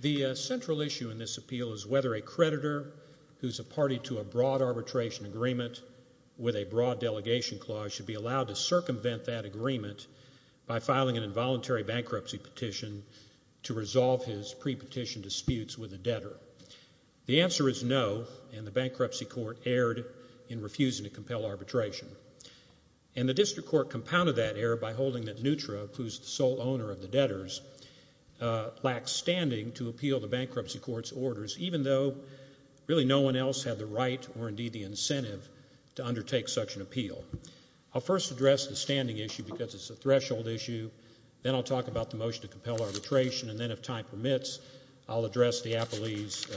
The central issue in this appeal is whether a creditor who is a party to a broad arbitration agreement with a broad delegation clause should be allowed to circumvent that agreement by filing an involuntary bankruptcy petition to resolve his pre-petition disputes with a debtor. The answer is no, and the bankruptcy court erred in refusing to compel arbitration. The district court compounded that error by holding that Neutra, who is the sole owner of the debtors, lacks standing to appeal the bankruptcy court's orders, even though no one else had the right or incentive to undertake such an appeal. I will first address the standing issue because it is a threshold issue, then I will talk about Neutra's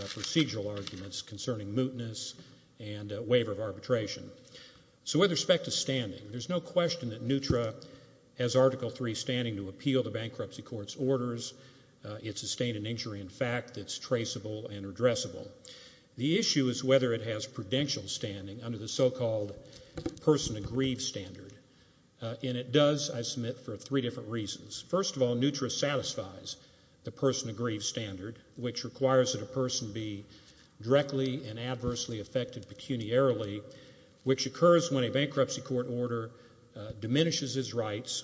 procedural arguments concerning mootness and waiver of arbitration. So with respect to standing, there is no question that Neutra has Article III standing to appeal the bankruptcy court's orders. It sustained an injury in fact that is traceable and addressable. The issue is whether it has prudential standing under the so-called person-agreed standard, and it does, I submit, for three different reasons. First of all, Neutra satisfies the person-agreed standard, which requires that a person be directly and adversely affected pecuniarily, which occurs when a bankruptcy court order diminishes his rights,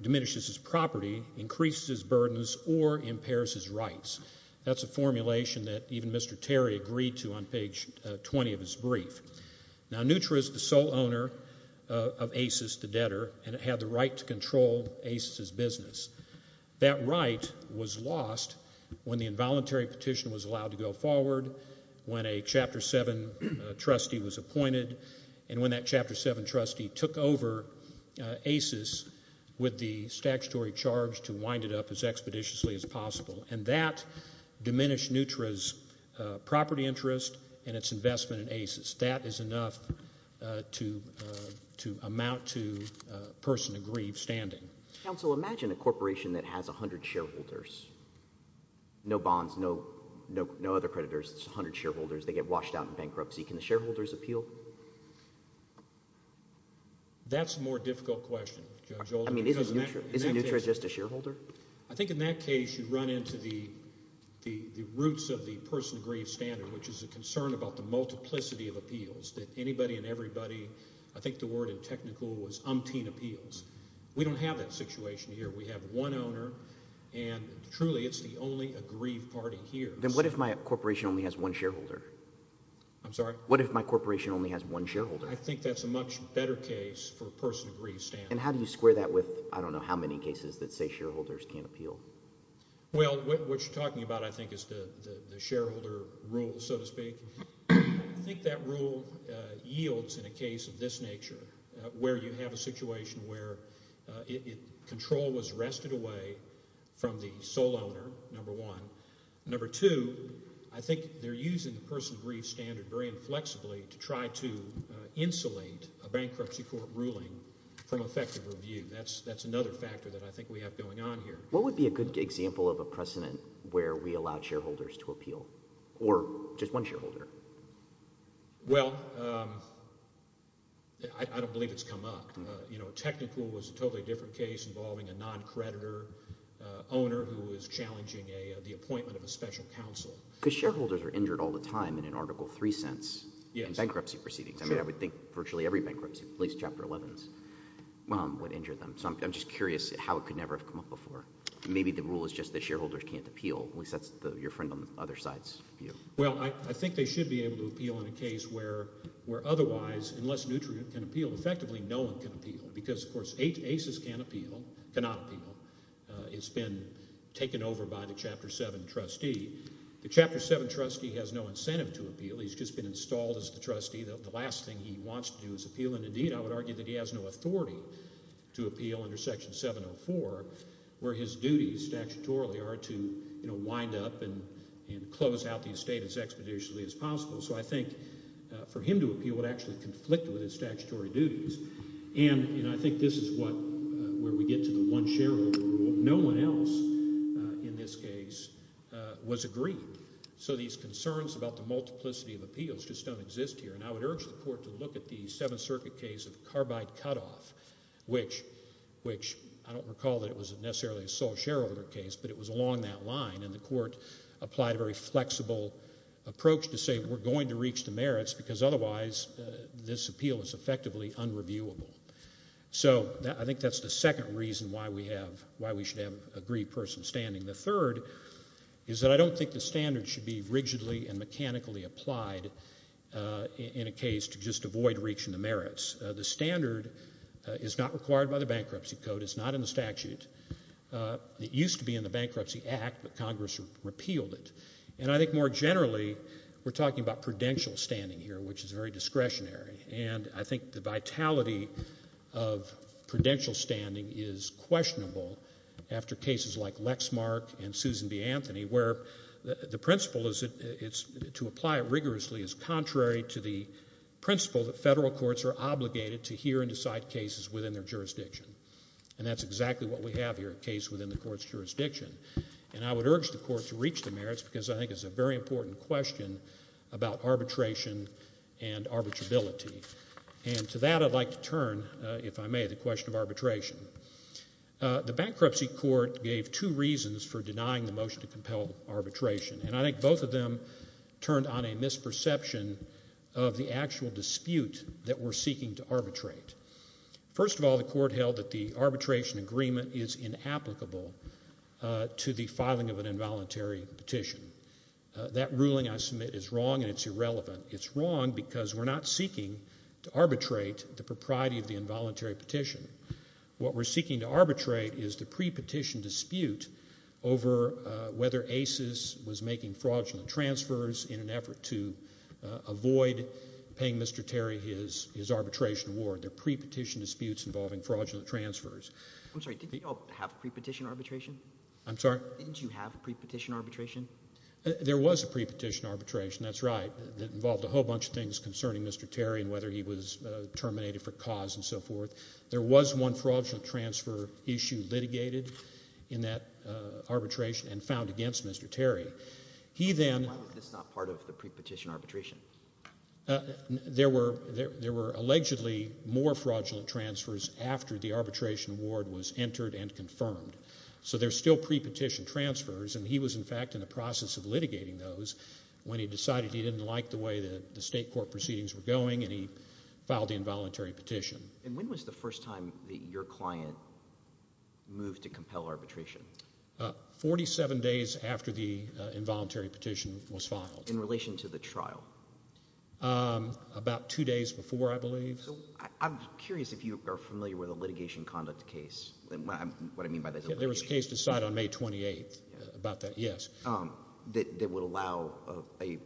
diminishes his property, increases his burdens, or impairs his rights. That's a formulation that even Mr. Terry agreed to on page 20 of his brief. Now, Neutra is the sole owner of ACES, the debtor, and it had the right to control ACES' business. That right was lost when the involuntary petition was allowed to go forward, when a Chapter VII trustee was appointed, and when that Chapter VII trustee took over ACES with the statutory charge to wind it up as expeditiously as possible, and that diminished Neutra's property interest and its investment in ACES. That is enough to amount to person-agreed standing. Counsel, imagine a corporation that has 100 shareholders. No bonds, no other creditors, it's 100 shareholders, they get washed out in bankruptcy. Can the shareholders appeal? That's a more difficult question, Judge Oldham. I mean, isn't Neutra just a shareholder? I think in that case, you run into the roots of the person-agreed standard, which is a concern about the multiplicity of appeals, that anybody and everybody, I think the word in technical was umpteen appeals. We don't have that situation here. We have one owner, and truly, it's the only aggrieved party here. Then what if my corporation only has one shareholder? I'm sorry? What if my corporation only has one shareholder? I think that's a much better case for person-agreed standing. And how do you square that with, I don't know how many cases that say shareholders can't appeal? Well, what you're talking about, I think, is the shareholder rule, so to speak. I think that rule yields in a case of this nature, where you have a situation where control was wrested away from the sole owner, number one. Number two, I think they're using the person-agreed standard very inflexibly to try to insulate a bankruptcy court ruling from effective review. That's another factor that I think we have going on here. What would be a good example of a precedent where we allowed shareholders to appeal? Or just one shareholder? Well, um, I don't believe it's come up. You know, technical was a totally different case involving a non-creditor owner who was challenging the appointment of a special counsel. Because shareholders are injured all the time in an Article 3 sense in bankruptcy proceedings. I mean, I would think virtually every bankruptcy, at least Chapter 11s, would injure them. So I'm just curious how it could never have come up before. Maybe the rule is just that shareholders can't appeal. At least that's your friend on the other side's view. Well, I think they should be able to appeal in a case where otherwise, unless nutrient can appeal, effectively no one can appeal. Because of course, ACEs can appeal, cannot appeal. It's been taken over by the Chapter 7 trustee. The Chapter 7 trustee has no incentive to appeal. He's just been installed as the trustee. The last thing he wants to do is appeal. And indeed, I would argue that he has no authority to appeal under Section 704 where his duties statutorily are to, you know, wind up and close out the estate as expeditiously as possible. So I think for him to appeal would actually conflict with his statutory duties. And you know, I think this is what, where we get to the one shareholder rule. No one else in this case was agreed. So these concerns about the multiplicity of appeals just don't exist here. And I would urge the Court to look at the Seventh Circuit case of carbide cutoff, which I don't recall that it was necessarily a sole shareholder case, but it was along that line. And the Court applied a very flexible approach to say we're going to reach the merits because otherwise this appeal is effectively unreviewable. So I think that's the second reason why we have, why we should have a aggrieved person standing. The third is that I don't think the standards should be rigidly and mechanically applied in a case to just avoid reaching the merits. The standard is not required by the Bankruptcy Code. It's not in the statute. It used to be in the Bankruptcy Act, but Congress repealed it. And I think more generally, we're talking about prudential standing here, which is very discretionary. And I think the vitality of prudential standing is questionable after cases like Lexmark and Susan B. Anthony, where the principle is to apply it rigorously is contrary to the principle that federal courts are obligated to hear and decide cases within their jurisdiction. And that's exactly what we have here, a case within the court's jurisdiction. And I would urge the Court to reach the merits because I think it's a very important question about arbitration and arbitrability. And to that, I'd like to turn, if I may, the question of arbitration. The Bankruptcy Court gave two reasons for denying the motion to compel arbitration, and I think both of them turned on a misperception of the actual dispute that we're seeking to arbitrate. First of all, the Court held that the arbitration agreement is inapplicable to the filing of an involuntary petition. That ruling I submit is wrong and it's irrelevant. It's wrong because we're not seeking to arbitrate the propriety of the involuntary petition. What we're seeking to arbitrate is the pre-petition dispute over whether ACES was making fraudulent transfers in an effort to avoid paying Mr. Terry his arbitration award. They're pre-petition disputes involving fraudulent transfers. I'm sorry, did you all have pre-petition arbitration? I'm sorry? Didn't you have pre-petition arbitration? There was a pre-petition arbitration, that's right, that involved a whole bunch of things concerning Mr. Terry and whether he was terminated for cause and so forth. There was one fraudulent transfer issue litigated in that arbitration and found against Mr. Terry. Why was this not part of the pre-petition arbitration? There were allegedly more fraudulent transfers after the arbitration award was entered and confirmed. So there's still pre-petition transfers and he was, in fact, in the process of litigating those when he decided he didn't like the way the state court proceedings were going and he filed the involuntary petition. And when was the first time that your client moved to compel arbitration? Forty-seven days after the involuntary petition was filed. In relation to the trial? About two days before, I believe. I'm curious if you are familiar with a litigation conduct case. What I mean by that is a litigation. There was a case decided on May 28th about that, yes. That would allow a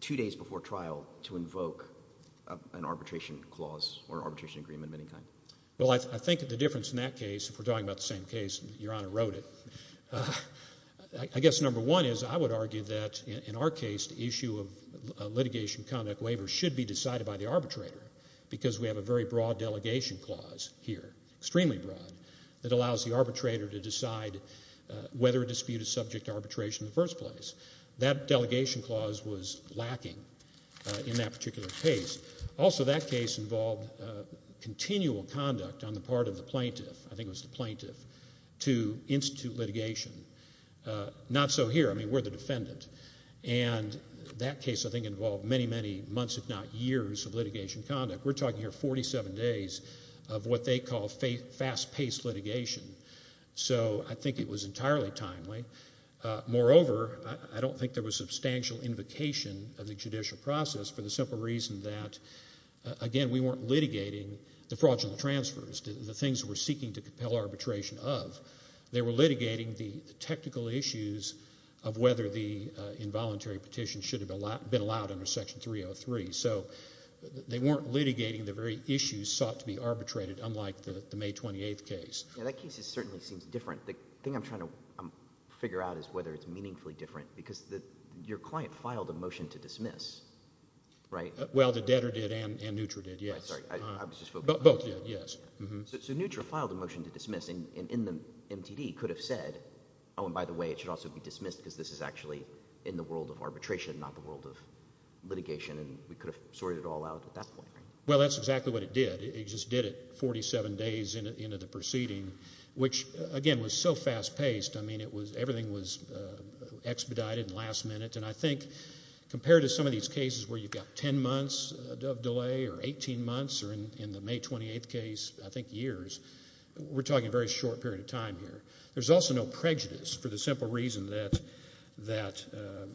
two days before trial to invoke an arbitration clause or arbitration agreement of any kind. Well, I think the difference in that case, if we're talking about the same case, Your Honor wrote it, I guess number one is I would argue that in our case the issue of litigation conduct waiver should be decided by the arbitrator because we have a very broad delegation clause here, extremely broad, that allows the arbitrator to decide whether a dispute is subject to arbitration in the first place. That delegation clause was lacking in that particular case. Also that case involved continual conduct on the part of the plaintiff, I think it was the plaintiff, to institute litigation. Not so here. I mean, we're the defendant. And that case, I think, involved many, many months, if not years, of litigation conduct. We're talking here 47 days of what they call fast-paced litigation. So I think it was entirely timely. Moreover, I don't think there was substantial invocation of the judicial process for the simple reason that, again, we weren't litigating the fraudulent transfers, the things we're seeking to compel arbitration of. They were litigating the technical issues of whether the involuntary petition should have been allowed under Section 303. So they weren't litigating the very issues sought to be arbitrated, unlike the May 28th case. Yeah, that case certainly seems different. The thing I'm trying to figure out is whether it's meaningfully different because your client filed a motion to dismiss, right? Well, the debtor did and Nutra did, yes. I'm sorry, I was just focusing on the debtor. Both did, yes. So Nutra filed a motion to dismiss and in the MTD could have said, oh, and by the way, it should also be dismissed because this is actually in the world of arbitration, not the world of litigation, and we could have sorted it all out at that point, right? Well, that's exactly what it did. It just did it 47 days into the proceeding, which, again, was so fast-paced. I mean, it was, everything was expedited and last-minute, and I think compared to some months of delay or 18 months or in the May 28th case, I think years, we're talking a very short period of time here. There's also no prejudice for the simple reason that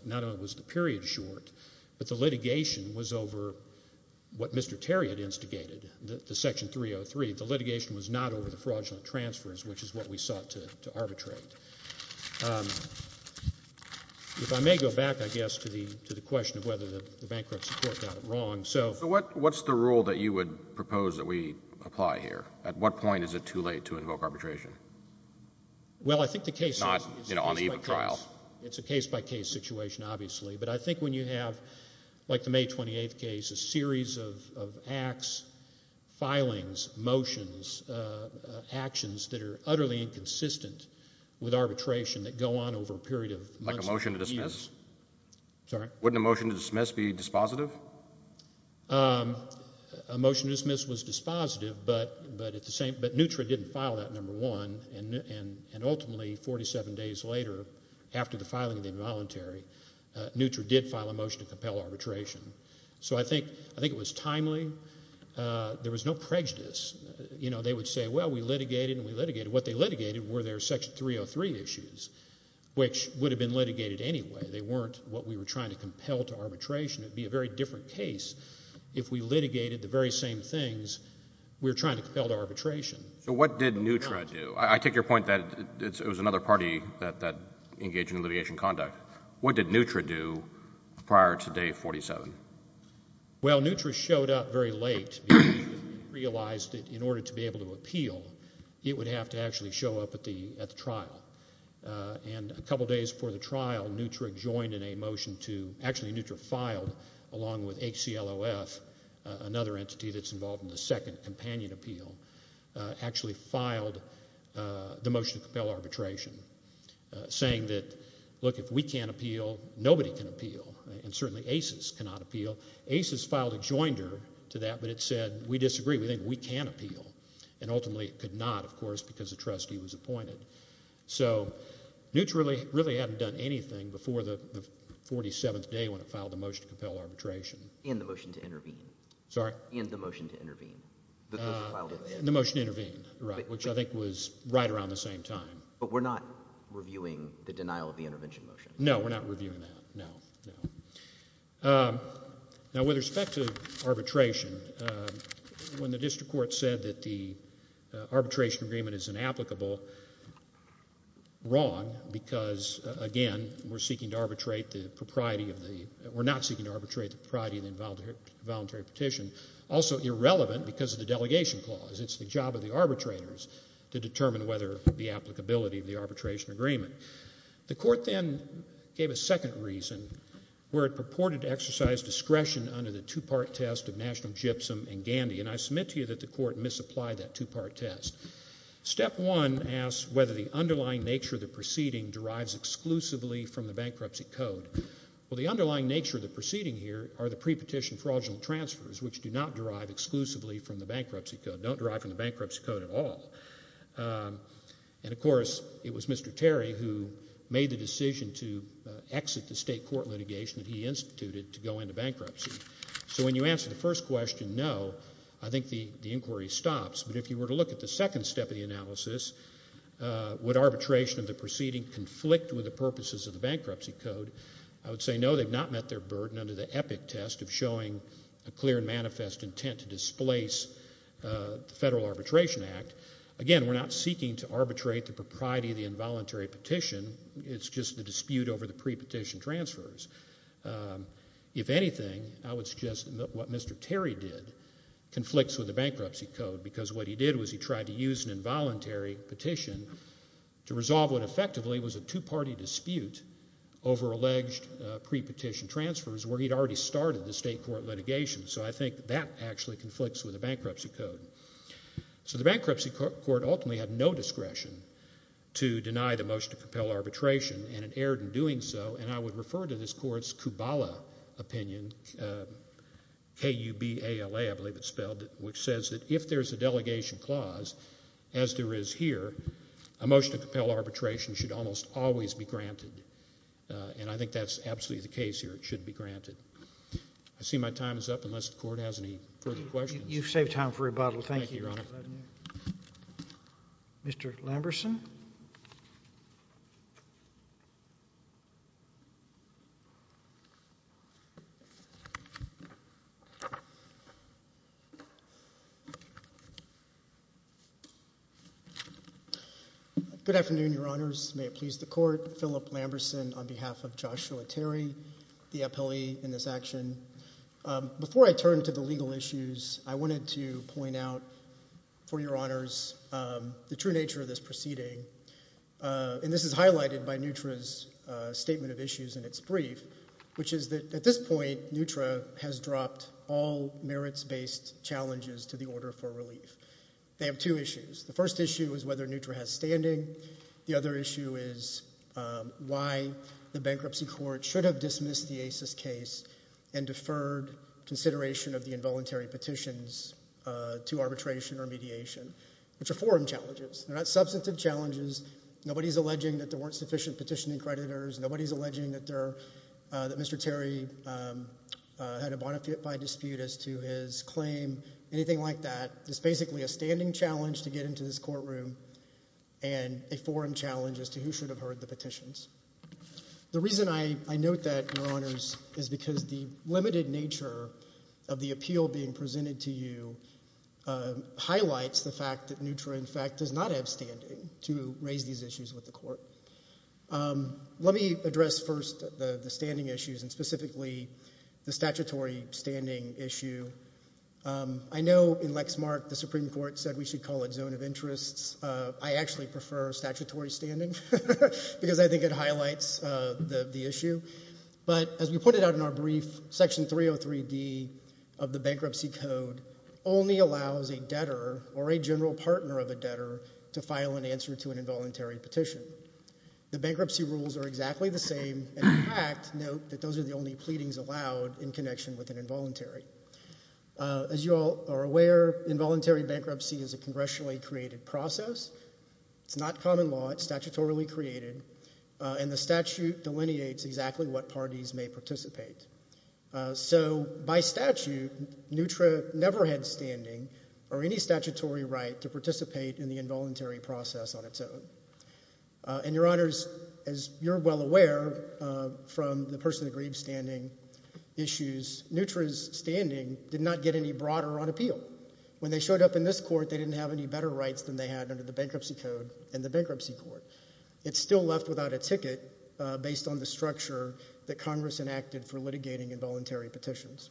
not only was the period short, but the litigation was over what Mr. Terry had instigated, the Section 303. The litigation was not over the fraudulent transfers, which is what we sought to arbitrate. If I may go back, I guess, to the question of whether the bankruptcy court got it wrong, so... So what's the rule that you would propose that we apply here? At what point is it too late to invoke arbitration? Well, I think the case... Not, you know, on the eve of trial. It's a case-by-case situation, obviously, but I think when you have, like the May 28th case, a series of acts, filings, motions, actions that are utterly inconsistent with arbitration that go on over a period of months and years... Like a motion to dismiss? Sorry? Wouldn't a motion to dismiss be dispositive? A motion to dismiss was dispositive, but at the same, but NUTRA didn't file that, number one, and ultimately, 47 days later, after the filing of the involuntary, NUTRA did file a motion to compel arbitration. So I think it was timely. There was no prejudice. You know, they would say, well, we litigated and we litigated. What they litigated were their Section 303 issues, which would have been litigated anyway. They weren't what we were trying to compel to arbitration. It would be a very different case if we litigated the very same things we were trying to compel to arbitration. So what did NUTRA do? I take your point that it was another party that engaged in alleviation conduct. What did NUTRA do prior to day 47? Well, NUTRA showed up very late, realized that in order to be able to appeal, it would have to actually show up at the trial. And a couple days before the trial, NUTRA joined in a motion to, actually, NUTRA filed along with HCLOF, another entity that's involved in the second companion appeal, actually filed the motion to compel arbitration, saying that, look, if we can't appeal, nobody can appeal. And certainly ACES cannot appeal. ACES filed a joinder to that, but it said, we disagree. We think we can appeal. And ultimately, it could not, of course, because the trustee was appointed. So NUTRA really hadn't done anything before the 47th day when it filed the motion to compel arbitration. Sorry? And the motion to intervene. The motion to intervene, right, which I think was right around the same time. But we're not reviewing the denial of the intervention motion. No, we're not reviewing that. No, no. Now, with respect to arbitration, when the district court said that the arbitration agreement is inapplicable, wrong, because, again, we're seeking to arbitrate the propriety of the, we're not seeking to arbitrate the propriety of the involuntary petition. Also, irrelevant because of the delegation clause. It's the job of the arbitrators to determine whether the applicability of the arbitration agreement. The court then gave a second reason where it purported to exercise discretion under the two-part test of national gypsum and gandy. And I submit to you that the court misapplied that two-part test. Step one asks whether the underlying nature of the proceeding derives exclusively from the bankruptcy code. Well, the underlying nature of the proceeding here are the prepetition fraudulent transfers, which do not derive exclusively from the bankruptcy code, don't derive from the bankruptcy code at all. And, of course, it was Mr. Terry who made the decision to exit the state court litigation that he instituted to go into bankruptcy. So when you answer the first question, no, I think the inquiry stops. But if you were to look at the second step of the analysis, would arbitration of the proceeding conflict with the purposes of the bankruptcy code, I would say no, they've not met their burden under the epic test of showing a clear and manifest intent to displace the Federal Arbitration Act. Again, we're not seeking to arbitrate the propriety of the involuntary petition. It's just the dispute over the prepetition transfers. If anything, I would suggest that what Mr. Terry did conflicts with the bankruptcy code because what he did was he tried to use an involuntary petition to resolve what effectively was a two-party dispute over alleged prepetition transfers where he'd already started the state court litigation. So I think that actually conflicts with the bankruptcy code. So the bankruptcy court ultimately had no discretion to deny the motion to compel arbitration, and it erred in doing so, and I would refer to this court's Kubala opinion, K-U-B-A-L-A, I believe it's spelled, which says that if there's a delegation clause, as there is here, a motion to compel arbitration should almost always be granted, and I think that's absolutely the case here. It should be granted. I see my time is up unless the court has any further questions. You've saved time for rebuttal. Thank you, Your Honor. Mr. Lamberson. Good afternoon, Your Honors. May it please the court. Philip Lamberson on behalf of Joshua Terry, the appellee in this action. Before I turn to the legal issues, I wanted to point out for Your Honors the true nature of this proceeding, and this is highlighted by NUTRA's statement of issues in its brief, which is that at this point NUTRA has dropped all merits-based challenges to the order for relief. They have two issues. The first issue is whether NUTRA has standing. The other issue is why the bankruptcy court should have dismissed the ACES case and deferred consideration of the involuntary petitions to arbitration or mediation, which are forum challenges. They're not substantive challenges. Nobody is alleging that there weren't sufficient petitioning creditors. Nobody is alleging that Mr. Terry had a bona fide dispute as to his claim, anything like that. It's basically a standing challenge to get into this courtroom and a forum challenge as to who should have heard the petitions. The reason I note that, Your Honors, is because the limited nature of the appeal being presented to you highlights the fact that NUTRA, in fact, does not have standing to raise these issues with the court. Let me address first the standing issues and specifically the statutory standing issue. I know in Lexmark the Supreme Court said we should call it zone of interests. I actually prefer statutory standing because I think it highlights the issue. But as we pointed out in our brief, Section 303D of the Bankruptcy Code only allows a debtor or a general partner of a debtor to file an answer to an involuntary petition. The bankruptcy rules are exactly the same. In fact, note that those are the only pleadings allowed in connection with an involuntary. As you all are aware, involuntary bankruptcy is a congressionally created process. It's not common law. It's statutorily created. And the statute delineates exactly what parties may participate. So by statute, NUTRA never had standing or any statutory right to participate in the involuntary process on its own. And, Your Honors, as you're well aware from the person that grieved standing issues, NUTRA's standing did not get any broader on appeal. When they showed up in this court, they didn't have any better rights than they had under the Bankruptcy Code and the Bankruptcy Court. It's still left without a ticket based on the structure that Congress enacted for litigating involuntary petitions.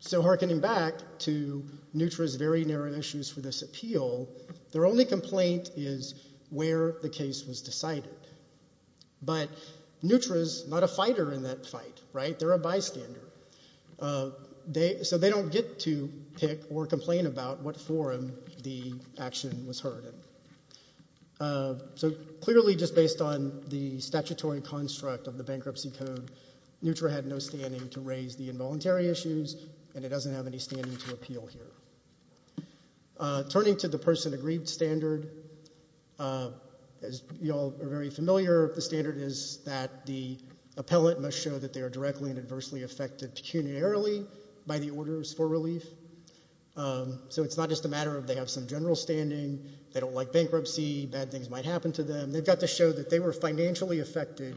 So hearkening back to NUTRA's very narrow issues for this appeal, their only complaint is where the case was decided. But NUTRA's not a fighter in that fight, right? They're a bystander. So they don't get to pick or complain about what forum the action was heard in. So clearly just based on the statutory construct of the Bankruptcy Code, NUTRA had no standing to raise the involuntary issues, and it doesn't have any standing to appeal here. Turning to the person that grieved standard, as you all are very familiar, the standard is that the appellant must show that they are directly and adversely affected pecuniarily by the orders for relief. So it's not just a matter of they have some general standing, they don't like bankruptcy, bad things might happen to them. They've got to show that they were financially affected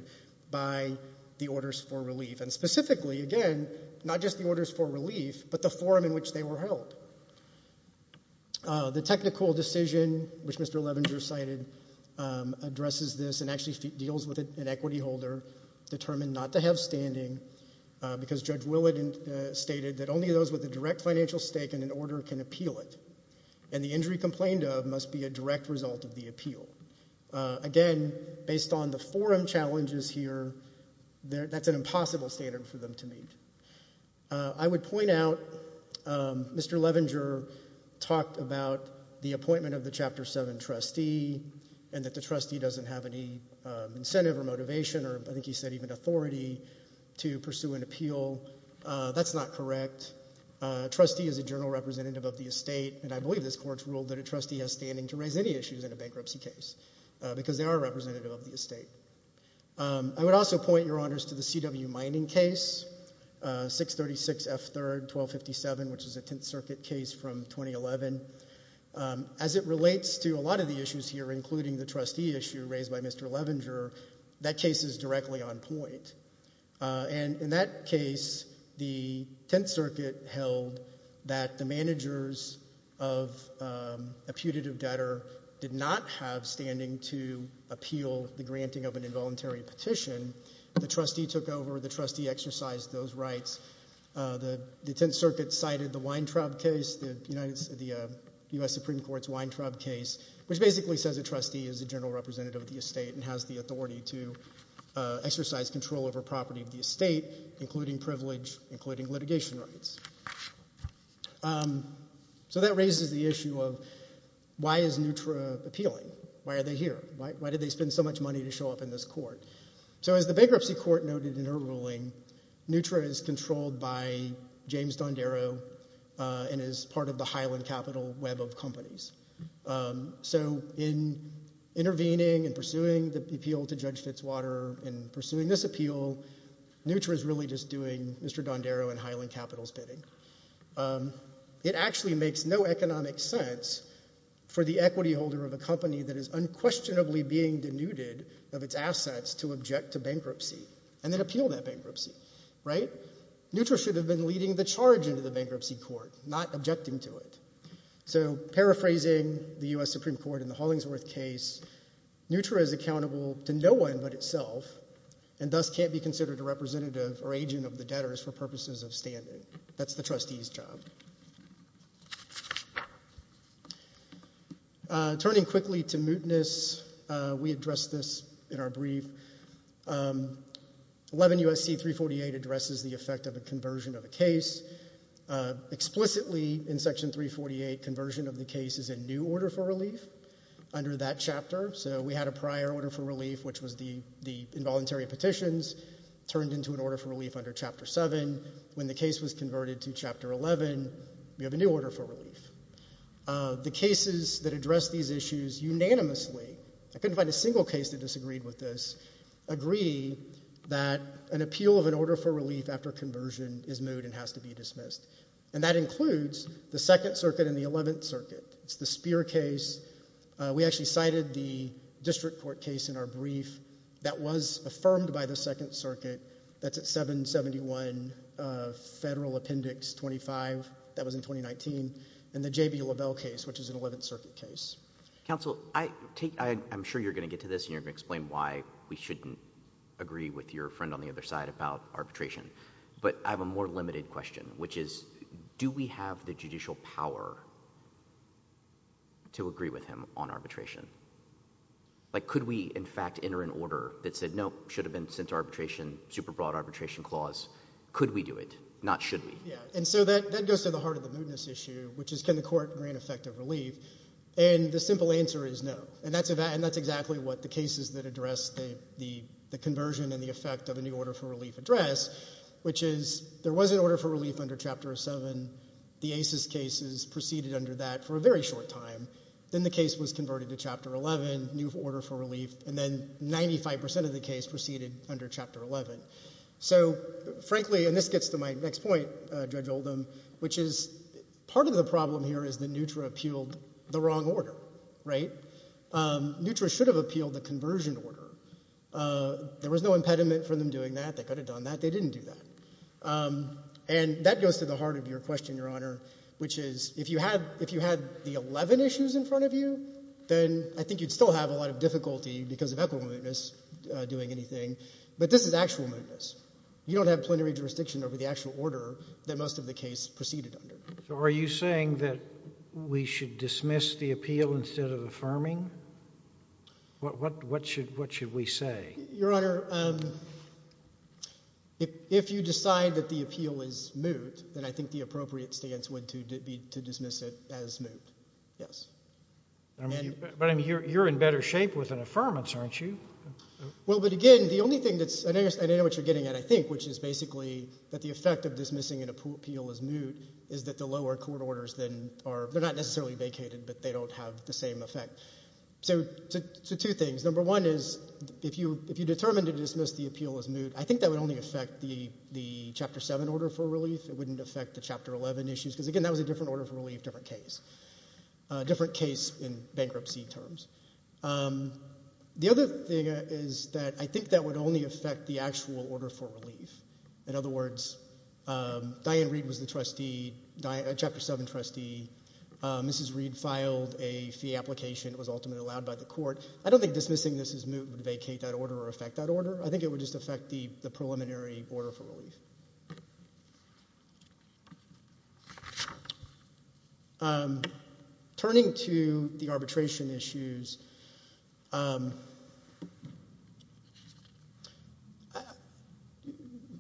by the orders for relief, and specifically, again, not just the orders for relief but the forum in which they were held. The technical decision, which Mr. Levenger cited, addresses this and actually deals with an equity holder determined not to have standing because Judge Willett stated that only those with a direct financial stake in an order can appeal it, and the injury complained of must be a direct result of the appeal. Again, based on the forum challenges here, that's an impossible standard for them to meet. I would point out Mr. Levenger talked about the appointment of the Chapter 7 trustee and that the trustee doesn't have any incentive or motivation or I think he said even authority to pursue an appeal. That's not correct. A trustee is a general representative of the estate, and I believe this court's ruled that a trustee has standing to raise any issues in a bankruptcy case because they are a representative of the estate. I would also point, Your Honors, to the C.W. Mining case, 636 F. 3rd, 1257, which is a Tenth Circuit case from 2011. As it relates to a lot of the issues here, including the trustee issue raised by Mr. Levenger, that case is directly on point. In that case, the Tenth Circuit held that the managers of a putative debtor did not have standing to appeal the granting of an involuntary petition. The trustee took over. The trustee exercised those rights. The Tenth Circuit cited the Weintraub case, the U.S. Supreme Court's Weintraub case, which basically says a trustee is a general representative of the estate and has the authority to exercise control over property of the estate, including privilege, including litigation rights. So that raises the issue of why is NUTRA appealing? Why are they here? Why did they spend so much money to show up in this court? So as the bankruptcy court noted in her ruling, NUTRA is controlled by James Dondero and is part of the Highland Capital web of companies. So in intervening and pursuing the appeal to Judge Fitzwater and pursuing this appeal, NUTRA is really just doing Mr. Dondero and Highland Capital's bidding. It actually makes no economic sense for the equity holder of a company that is unquestionably being denuded of its assets to object to bankruptcy and then appeal that bankruptcy. NUTRA should have been leading the charge into the bankruptcy court, not objecting to it. So paraphrasing the U.S. Supreme Court in the Hollingsworth case, NUTRA is accountable to no one but itself and thus can't be considered a representative or agent of the debtors for purposes of standing. That's the trustee's job. Turning quickly to mootness, we addressed this in our brief. 11 U.S.C. 348 addresses the effect of a conversion of a case. Explicitly in Section 348, conversion of the case is a new order for relief under that chapter. So we had a prior order for relief, which was the involuntary petitions, turned into an order for relief under Chapter 7. When the case was converted to Chapter 11, we have a new order for relief. The cases that address these issues unanimously, I couldn't find a single case that disagreed with this, agree that an appeal of an order for relief after conversion is moot and has to be dismissed. And that includes the Second Circuit and the Eleventh Circuit. It's the Speer case. We actually cited the District Court case in our brief that was affirmed by the Second Circuit. That's at 771 Federal Appendix 25. That was in 2019. And the J.B. Lavelle case, which is an Eleventh Circuit case. Counsel, I'm sure you're going to get to this and you're going to explain why we shouldn't agree with your friend on the other side about arbitration. But I have a more limited question, which is do we have the judicial power to agree with him on arbitration? Like, could we, in fact, enter an order that said, no, should have been sent to arbitration, super broad arbitration clause, could we do it, not should we? Yeah, and so that goes to the heart of the mootness issue, which is can the court grant effective relief? And the simple answer is no. And that's exactly what the cases that address the conversion and the effect of a new order for relief address, which is there was an order for relief under Chapter 7. The ACES cases proceeded under that for a very short time. Then the case was converted to Chapter 11, new order for relief, and then 95% of the case proceeded under Chapter 11. So, frankly, and this gets to my next point, Judge Oldham, which is part of the problem here is that NUTRA appealed the wrong order, right? NUTRA should have appealed the conversion order. There was no impediment for them doing that. They could have done that. They didn't do that. And that goes to the heart of your question, Your Honor, which is if you had the 11 issues in front of you, then I think you'd still have a lot of difficulty because of equitable mootness doing anything, but this is actual mootness. You don't have plenary jurisdiction over the actual order that most of the case proceeded under. So are you saying that we should dismiss the appeal instead of affirming? What should we say? Your Honor, if you decide that the appeal is moot, then I think the appropriate stance would be to dismiss it as moot. Yes. But you're in better shape with an affirmance, aren't you? Well, but again, the only thing that's... I know what you're getting at, I think, which is basically that the effect of dismissing an appeal as moot is that the lower court orders then are... They're not necessarily vacated, but they don't have the same effect. So two things. Number one is, if you determine to dismiss the appeal as moot, I think that would only affect the Chapter 7 order for relief. It wouldn't affect the Chapter 11 issues because, again, that was a different order for relief, different case. A different case in bankruptcy terms. The other thing is that I think that would only affect the actual order for relief. In other words, Diane Reed was the trustee, a Chapter 7 trustee. Mrs Reed filed a fee application. It was ultimately allowed by the court. I don't think dismissing this as moot would vacate that order or affect that order. I think it would just affect the preliminary order for relief. Turning to the arbitration issues...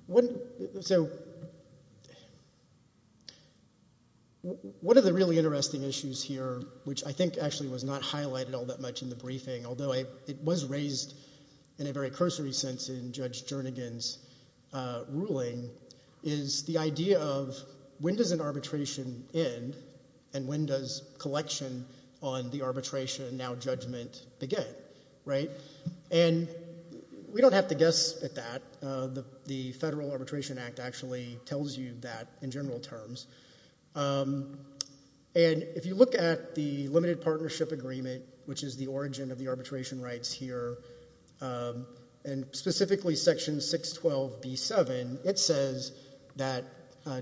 One of the really interesting issues here, which I think actually was not highlighted all that much in the briefing, although it was raised in a very cursory sense in Judge Jernigan's ruling, is the idea of when does an arbitration end and when does collection on the arbitration and now judgment begin, right? And we don't have to guess at that. The Federal Arbitration Act actually tells you that in general terms. And if you look at the Limited Partnership Agreement, which is the origin of the arbitration rights here, and specifically Section 612B7, it says that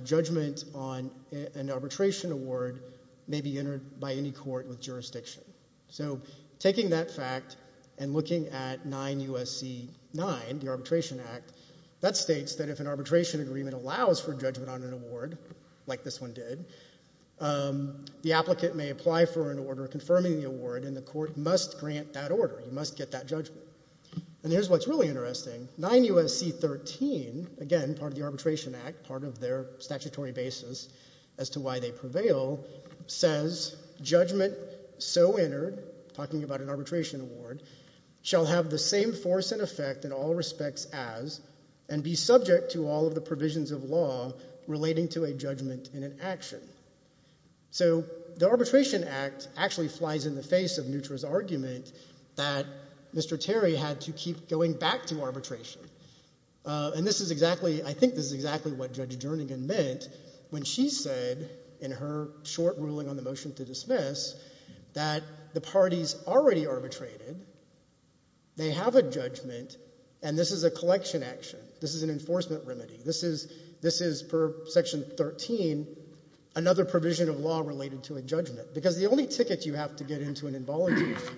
judgment on an arbitration award may be entered by any court with jurisdiction. So taking that fact and looking at 9 U.S.C. 9, the Arbitration Act, that states that if an arbitration agreement allows for judgment on an award, like this one did, the applicant may apply for an order confirming the award, and the court must grant that order. You must get that judgment. And here's what's really interesting. 9 U.S.C. 13, again, part of the Arbitration Act, part of their statutory basis as to why they prevail, says judgment so entered, talking about an arbitration award, shall have the same force and effect in all respects as and be subject to all of the provisions of law relating to a judgment in an action. So the Arbitration Act actually flies in the face of Neutra's argument that Mr. Terry had to keep going back to arbitration. And I think this is exactly what Judge Jernigan meant when she said in her short ruling on the motion to dismiss that the parties already arbitrated, they have a judgment, and this is a collection action. This is an enforcement remedy. This is, per Section 13, another provision of law related to a judgment. Because the only ticket you have to get into an involuntary issue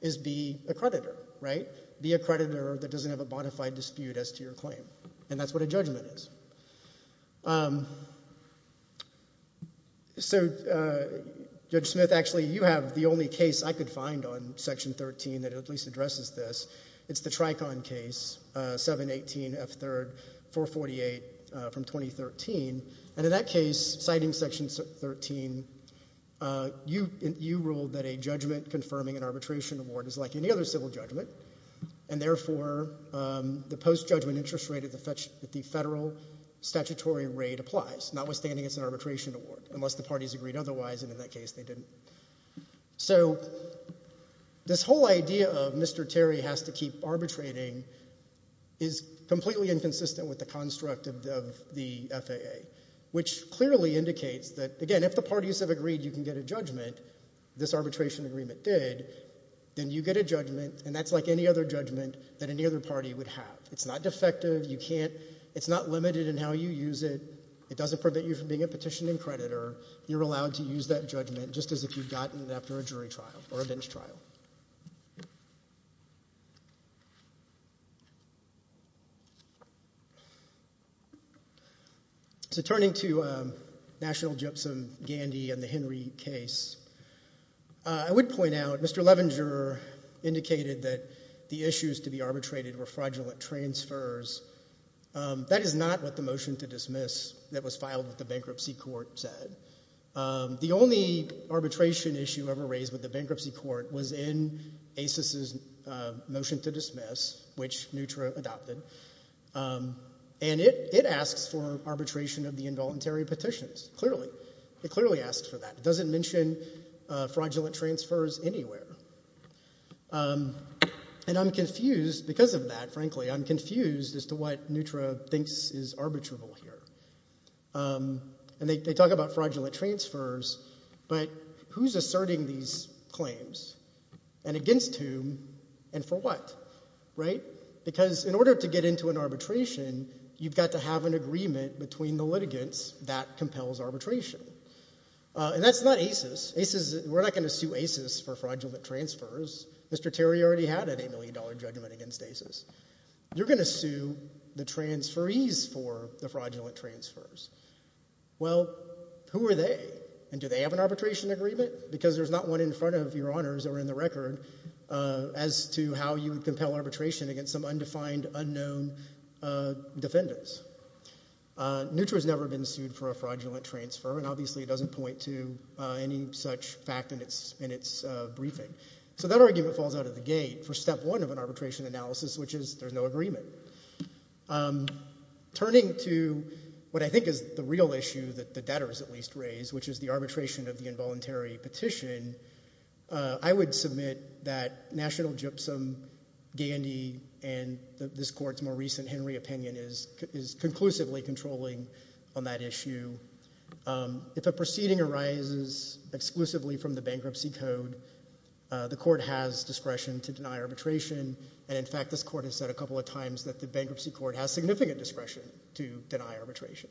is be a creditor, right? Be a creditor that doesn't have a bona fide dispute as to your claim. And that's what a judgment is. So, Judge Smith, actually, you have the only case I could find on Section 13 that at least addresses this. It's the Tricon case, 718F3, 448 from 2013. And in that case, citing Section 13, you ruled that a judgment confirming an arbitration award is like any other civil judgment, and therefore the post-judgment interest rate at the federal statutory rate applies, notwithstanding it's an arbitration award, unless the parties agreed otherwise, and in that case they didn't. So this whole idea of Mr. Terry has to keep arbitrating is completely inconsistent with the construct of the FAA, which clearly indicates that, again, if the parties have agreed you can get a judgment, this arbitration agreement did, then you get a judgment, and that's like any other judgment that any other party would have. It's not defective. It's not limited in how you use it. It doesn't prevent you from being a petitioning creditor. You're allowed to use that judgment just as if you'd gotten it after a jury trial or a bench trial. So turning to National Gypsum-Gandy and the Henry case, I would point out Mr. Levinger indicated that the issues to be arbitrated were fraudulent transfers. That is not what the motion to dismiss that was filed with the bankruptcy court said. The only arbitration issue ever raised with the bankruptcy court was in ACIS's motion to dismiss, which NUTRA adopted, and it asks for arbitration of the involuntary petitions. Clearly. It clearly asks for that. It doesn't mention fraudulent transfers anywhere. And I'm confused because of that, frankly. I'm confused as to what NUTRA thinks is arbitrable here. And they talk about fraudulent transfers, but who's asserting these claims? And against whom? And for what? Right? Because in order to get into an arbitration, you've got to have an agreement between the litigants that compels arbitration. And that's not ACIS. We're not going to sue ACIS for fraudulent transfers. Mr. Terry already had a $8 million judgment against ACIS. You're going to sue the transferees for the fraudulent transfers. Well, who are they? And do they have an arbitration agreement? Because there's not one in front of Your Honors or in the record as to how you would compel arbitration against some undefined, unknown defendants. NUTRA's never been sued for a fraudulent transfer, and obviously it doesn't point to any such fact in its briefing. So that argument falls out of the gate for step one of an arbitration analysis, which is there's no agreement. Turning to what I think is the real issue that the debtors at least raise, which is the arbitration of the involuntary petition, I would submit that National Gypsum, Gandy, and this Court's more recent Henry opinion is conclusively controlling on that issue. If a proceeding arises exclusively from the bankruptcy code, the Court has discretion to deny arbitration, and in fact this Court has said a couple of times that the bankruptcy court has significant discretion to deny arbitration.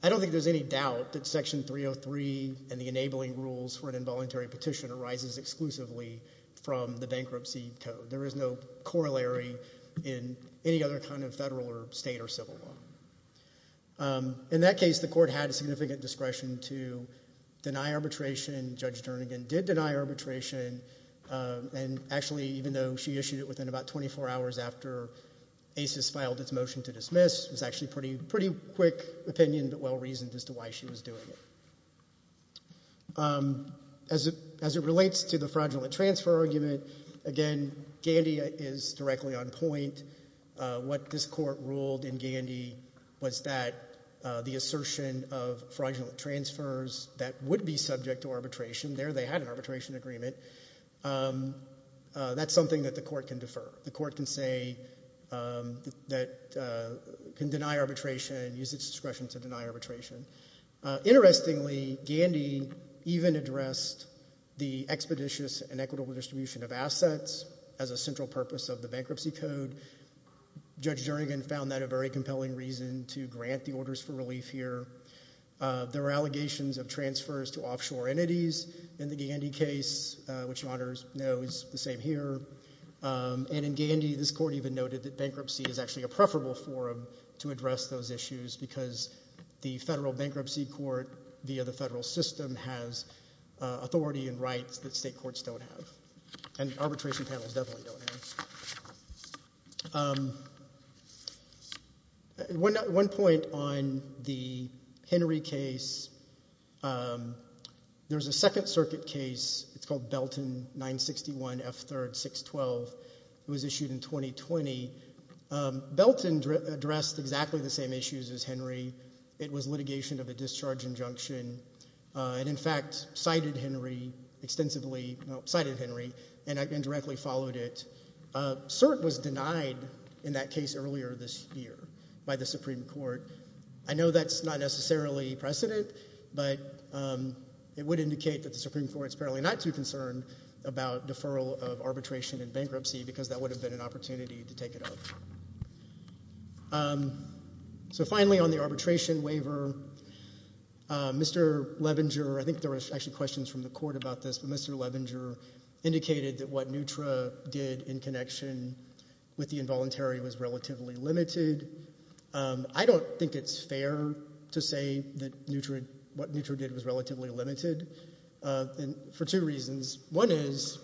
I don't think there's any doubt that Section 303 and the enabling rules for an involuntary petition arises exclusively from the bankruptcy code. There is no corollary in any other kind of federal or state or civil law. In that case, the Court had significant discretion to deny arbitration. Judge Dernigan did deny arbitration, and actually even though she issued it within about 24 hours after ACES filed its motion to dismiss, it was actually a pretty quick opinion, but well-reasoned as to why she was doing it. As it relates to the fraudulent transfer argument, again, Gandy is directly on point. What this Court ruled in Gandy was that the assertion of fraudulent transfers that would be subject to arbitration, there they had an arbitration agreement, that's something that the Court can defer. The Court can say that it can deny arbitration, use its discretion to deny arbitration. Interestingly, Gandy even addressed the expeditious and equitable distribution of assets as a central purpose of the bankruptcy code. Judge Dernigan found that a very compelling reason to grant the orders for relief here. There are allegations of transfers to offshore entities in the Gandy case, which you already know is the same here. And in Gandy, this Court even noted that bankruptcy is actually a preferable forum to address those issues because the federal bankruptcy court via the federal system has authority and rights that state courts don't have, and arbitration panels definitely don't have. One point on the Henry case, there's a Second Circuit case called Belton 961 F. 3rd 612 that was issued in 2020. Belton addressed exactly the same issues as Henry. It was litigation of a discharge injunction and in fact cited Henry extensively and indirectly followed it. CERT was denied in that case earlier this year by the Supreme Court. I know that's not necessarily precedent, but it would indicate that the Supreme Court is apparently not too concerned about deferral of arbitration and bankruptcy because that would have been an opportunity to take it up. So finally on the arbitration waiver, Mr. Levenger, I think there were actually questions from the Court about this, but Mr. Levenger indicated that what NUTRA did in connection with the involuntary was relatively limited. I don't think it's fair to say that what NUTRA did was relatively limited for two reasons. One is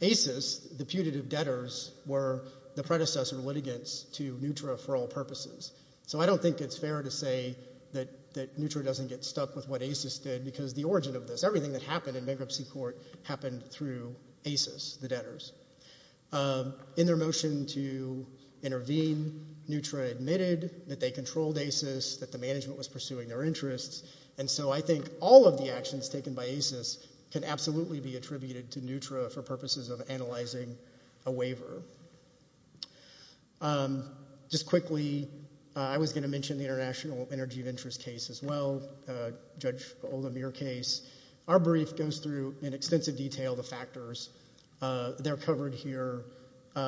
ACES, the putative debtors were the predecessor litigants to NUTRA for all purposes. So I don't think it's fair to say that NUTRA doesn't get stuck with what ACES did because the origin of this, everything that happened in bankruptcy court happened through ACES, the debtors. In their motion to intervene, NUTRA admitted that they controlled ACES, that the management was pursuing their interests and so I think all of the actions taken by ACES can absolutely be attributed to NUTRA for purposes of analyzing a waiver. Just quickly, I was going to mention the International Energy of Interest case as well, Judge Olamir case. Our brief goes through in extensive detail the factors. They're covered here. There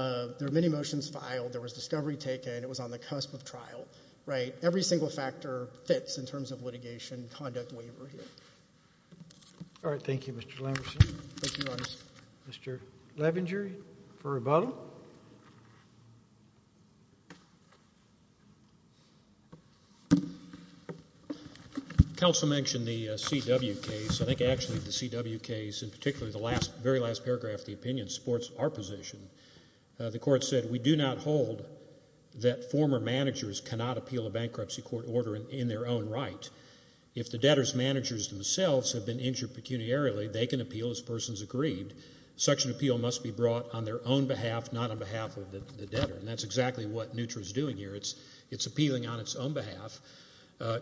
are many motions filed, there was discovery taken, it was on the cusp of trial. Every single factor fits in terms of litigation and conduct waiver here. Thank you, Mr. Lamerson. Mr. Levenger for rebuttal. Counsel mentioned the CW case. I think actually the CW case, in particular the very last paragraph of the opinion supports our position. The court said we do not hold that former managers cannot appeal a bankruptcy court order in their own right. If the debtors' managers themselves have been injured pecuniarily, they can appeal as persons agreed. Such an appeal must be brought on their own behalf, not on behalf of the debtor. That's exactly what NUTRA is doing here. It's appealing on its own behalf,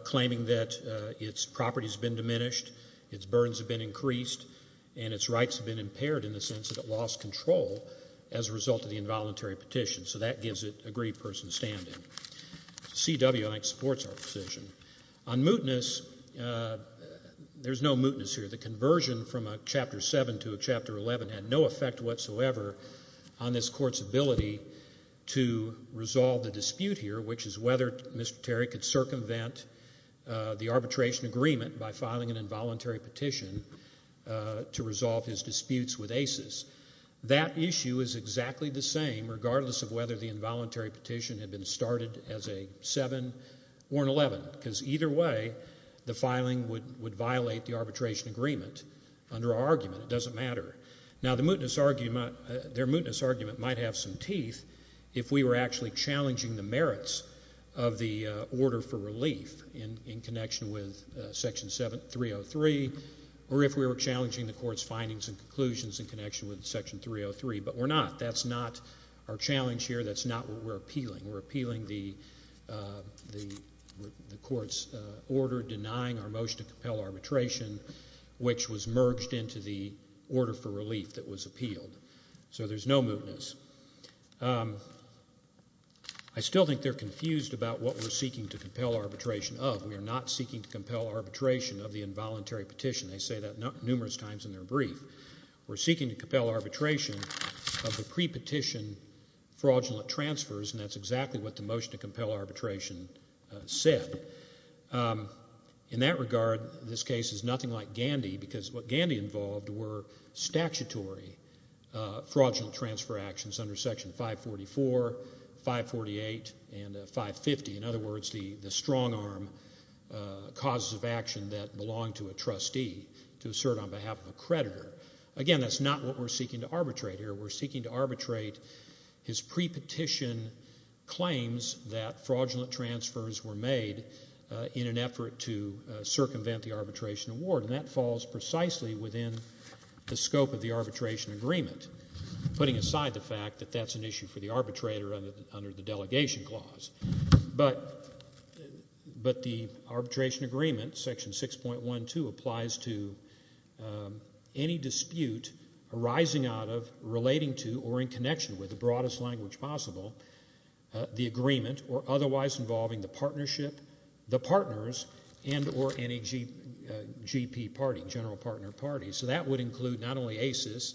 claiming that its property has been diminished, its burdens have been increased, and its rights have been impaired in the sense that it lost control as a result of the involuntary petition. So that gives it agreed person standing. CW, I think, supports our position. On mootness, there's no mootness here. The conversion from a Chapter 7 to a Chapter 11 had no effect whatsoever on this court's ability to resolve the dispute here, which is whether Mr. Terry could circumvent the arbitration agreement by filing an involuntary petition to resolve his disputes with ACES. That issue is exactly the same, regardless of whether the involuntary petition had been started as a 7 or an 11, because either way the filing would violate the arbitration agreement under our argument. It doesn't matter. Now, their mootness argument might have some teeth if we were actually challenging the merits of the order for relief in connection with Section 303 or if we were challenging the court's findings and conclusions in connection with Section 303, but we're not. That's not our challenge here. That's not what we're appealing. We're appealing the court's order denying our motion to compel arbitration, which was merged into the order for relief that was appealed. So there's no mootness. I still think they're confused about what we're seeking to compel arbitration of. We are not seeking to compel arbitration of the involuntary petition. They say that numerous times in their brief. We're seeking to compel arbitration of the prepetition fraudulent transfers, and that's exactly what the motion to compel arbitration said. In that regard, this case is nothing like Gandy because what Gandy involved were statutory fraudulent transfer actions under Section 544, 548, and 550. In other words, the strong-arm causes of action that belong to a trustee to assert on behalf of a creditor. Again, that's not what we're seeking to arbitrate here. We're seeking to arbitrate his prepetition claims that fraudulent transfers were made in an effort to circumvent the arbitration award, and that falls precisely within the scope of the arbitration agreement, putting aside the fact that that's an issue for the arbitrator under the delegation clause. But the arbitration agreement, Section 6.12, applies to any dispute arising out of, relating to, or in connection with, the broadest language possible, the agreement, or otherwise involving the partnership, the partners, and or any GP party, general partner party. So that would include not only ACES,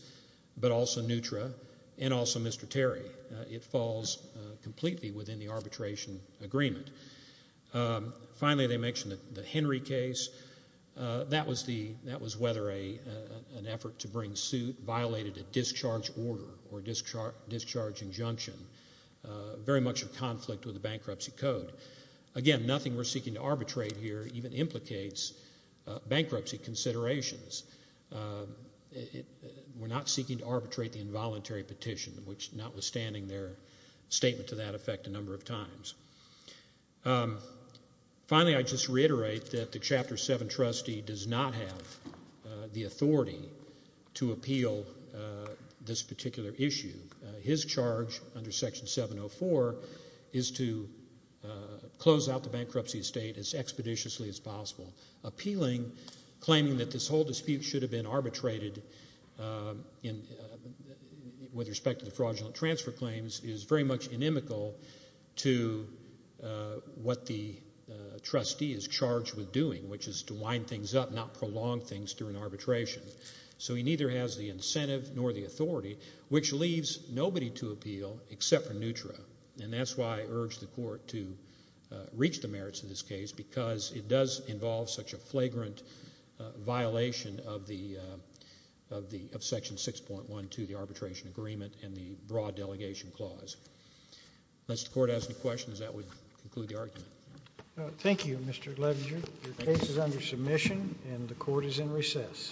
but also NUTRA, and also Mr. Terry. It falls completely within the arbitration agreement. Finally, they mentioned the Henry case. That was whether an effort to bring suit violated a discharge order or discharge injunction, very much in conflict with the bankruptcy code. Again, nothing we're seeking to arbitrate here even implicates bankruptcy considerations. We're not seeking to arbitrate the involuntary petition, which, notwithstanding their statement to that effect a number of times. Finally, I'd just reiterate that the Chapter 7 trustee does not have the authority to appeal this particular issue. His charge under Section 704 is to close out the bankruptcy estate as expeditiously as possible. Claiming that this whole dispute should have been arbitrated with respect to the fraudulent transfer claims is very much inimical to what the trustee is charged with doing, which is to wind things up, not prolong things during arbitration. So he neither has the incentive nor the authority, which leaves nobody to appeal except for NUTRA. And that's why I urge the Court to reach the merits of this case because it does involve such a flagrant violation of Section 6.1.2, the Arbitration Agreement and the Broad Delegation Clause. Unless the Court has any questions, that would conclude the argument. Thank you, Mr. Ledger. Your case is under submission and the Court is in recess.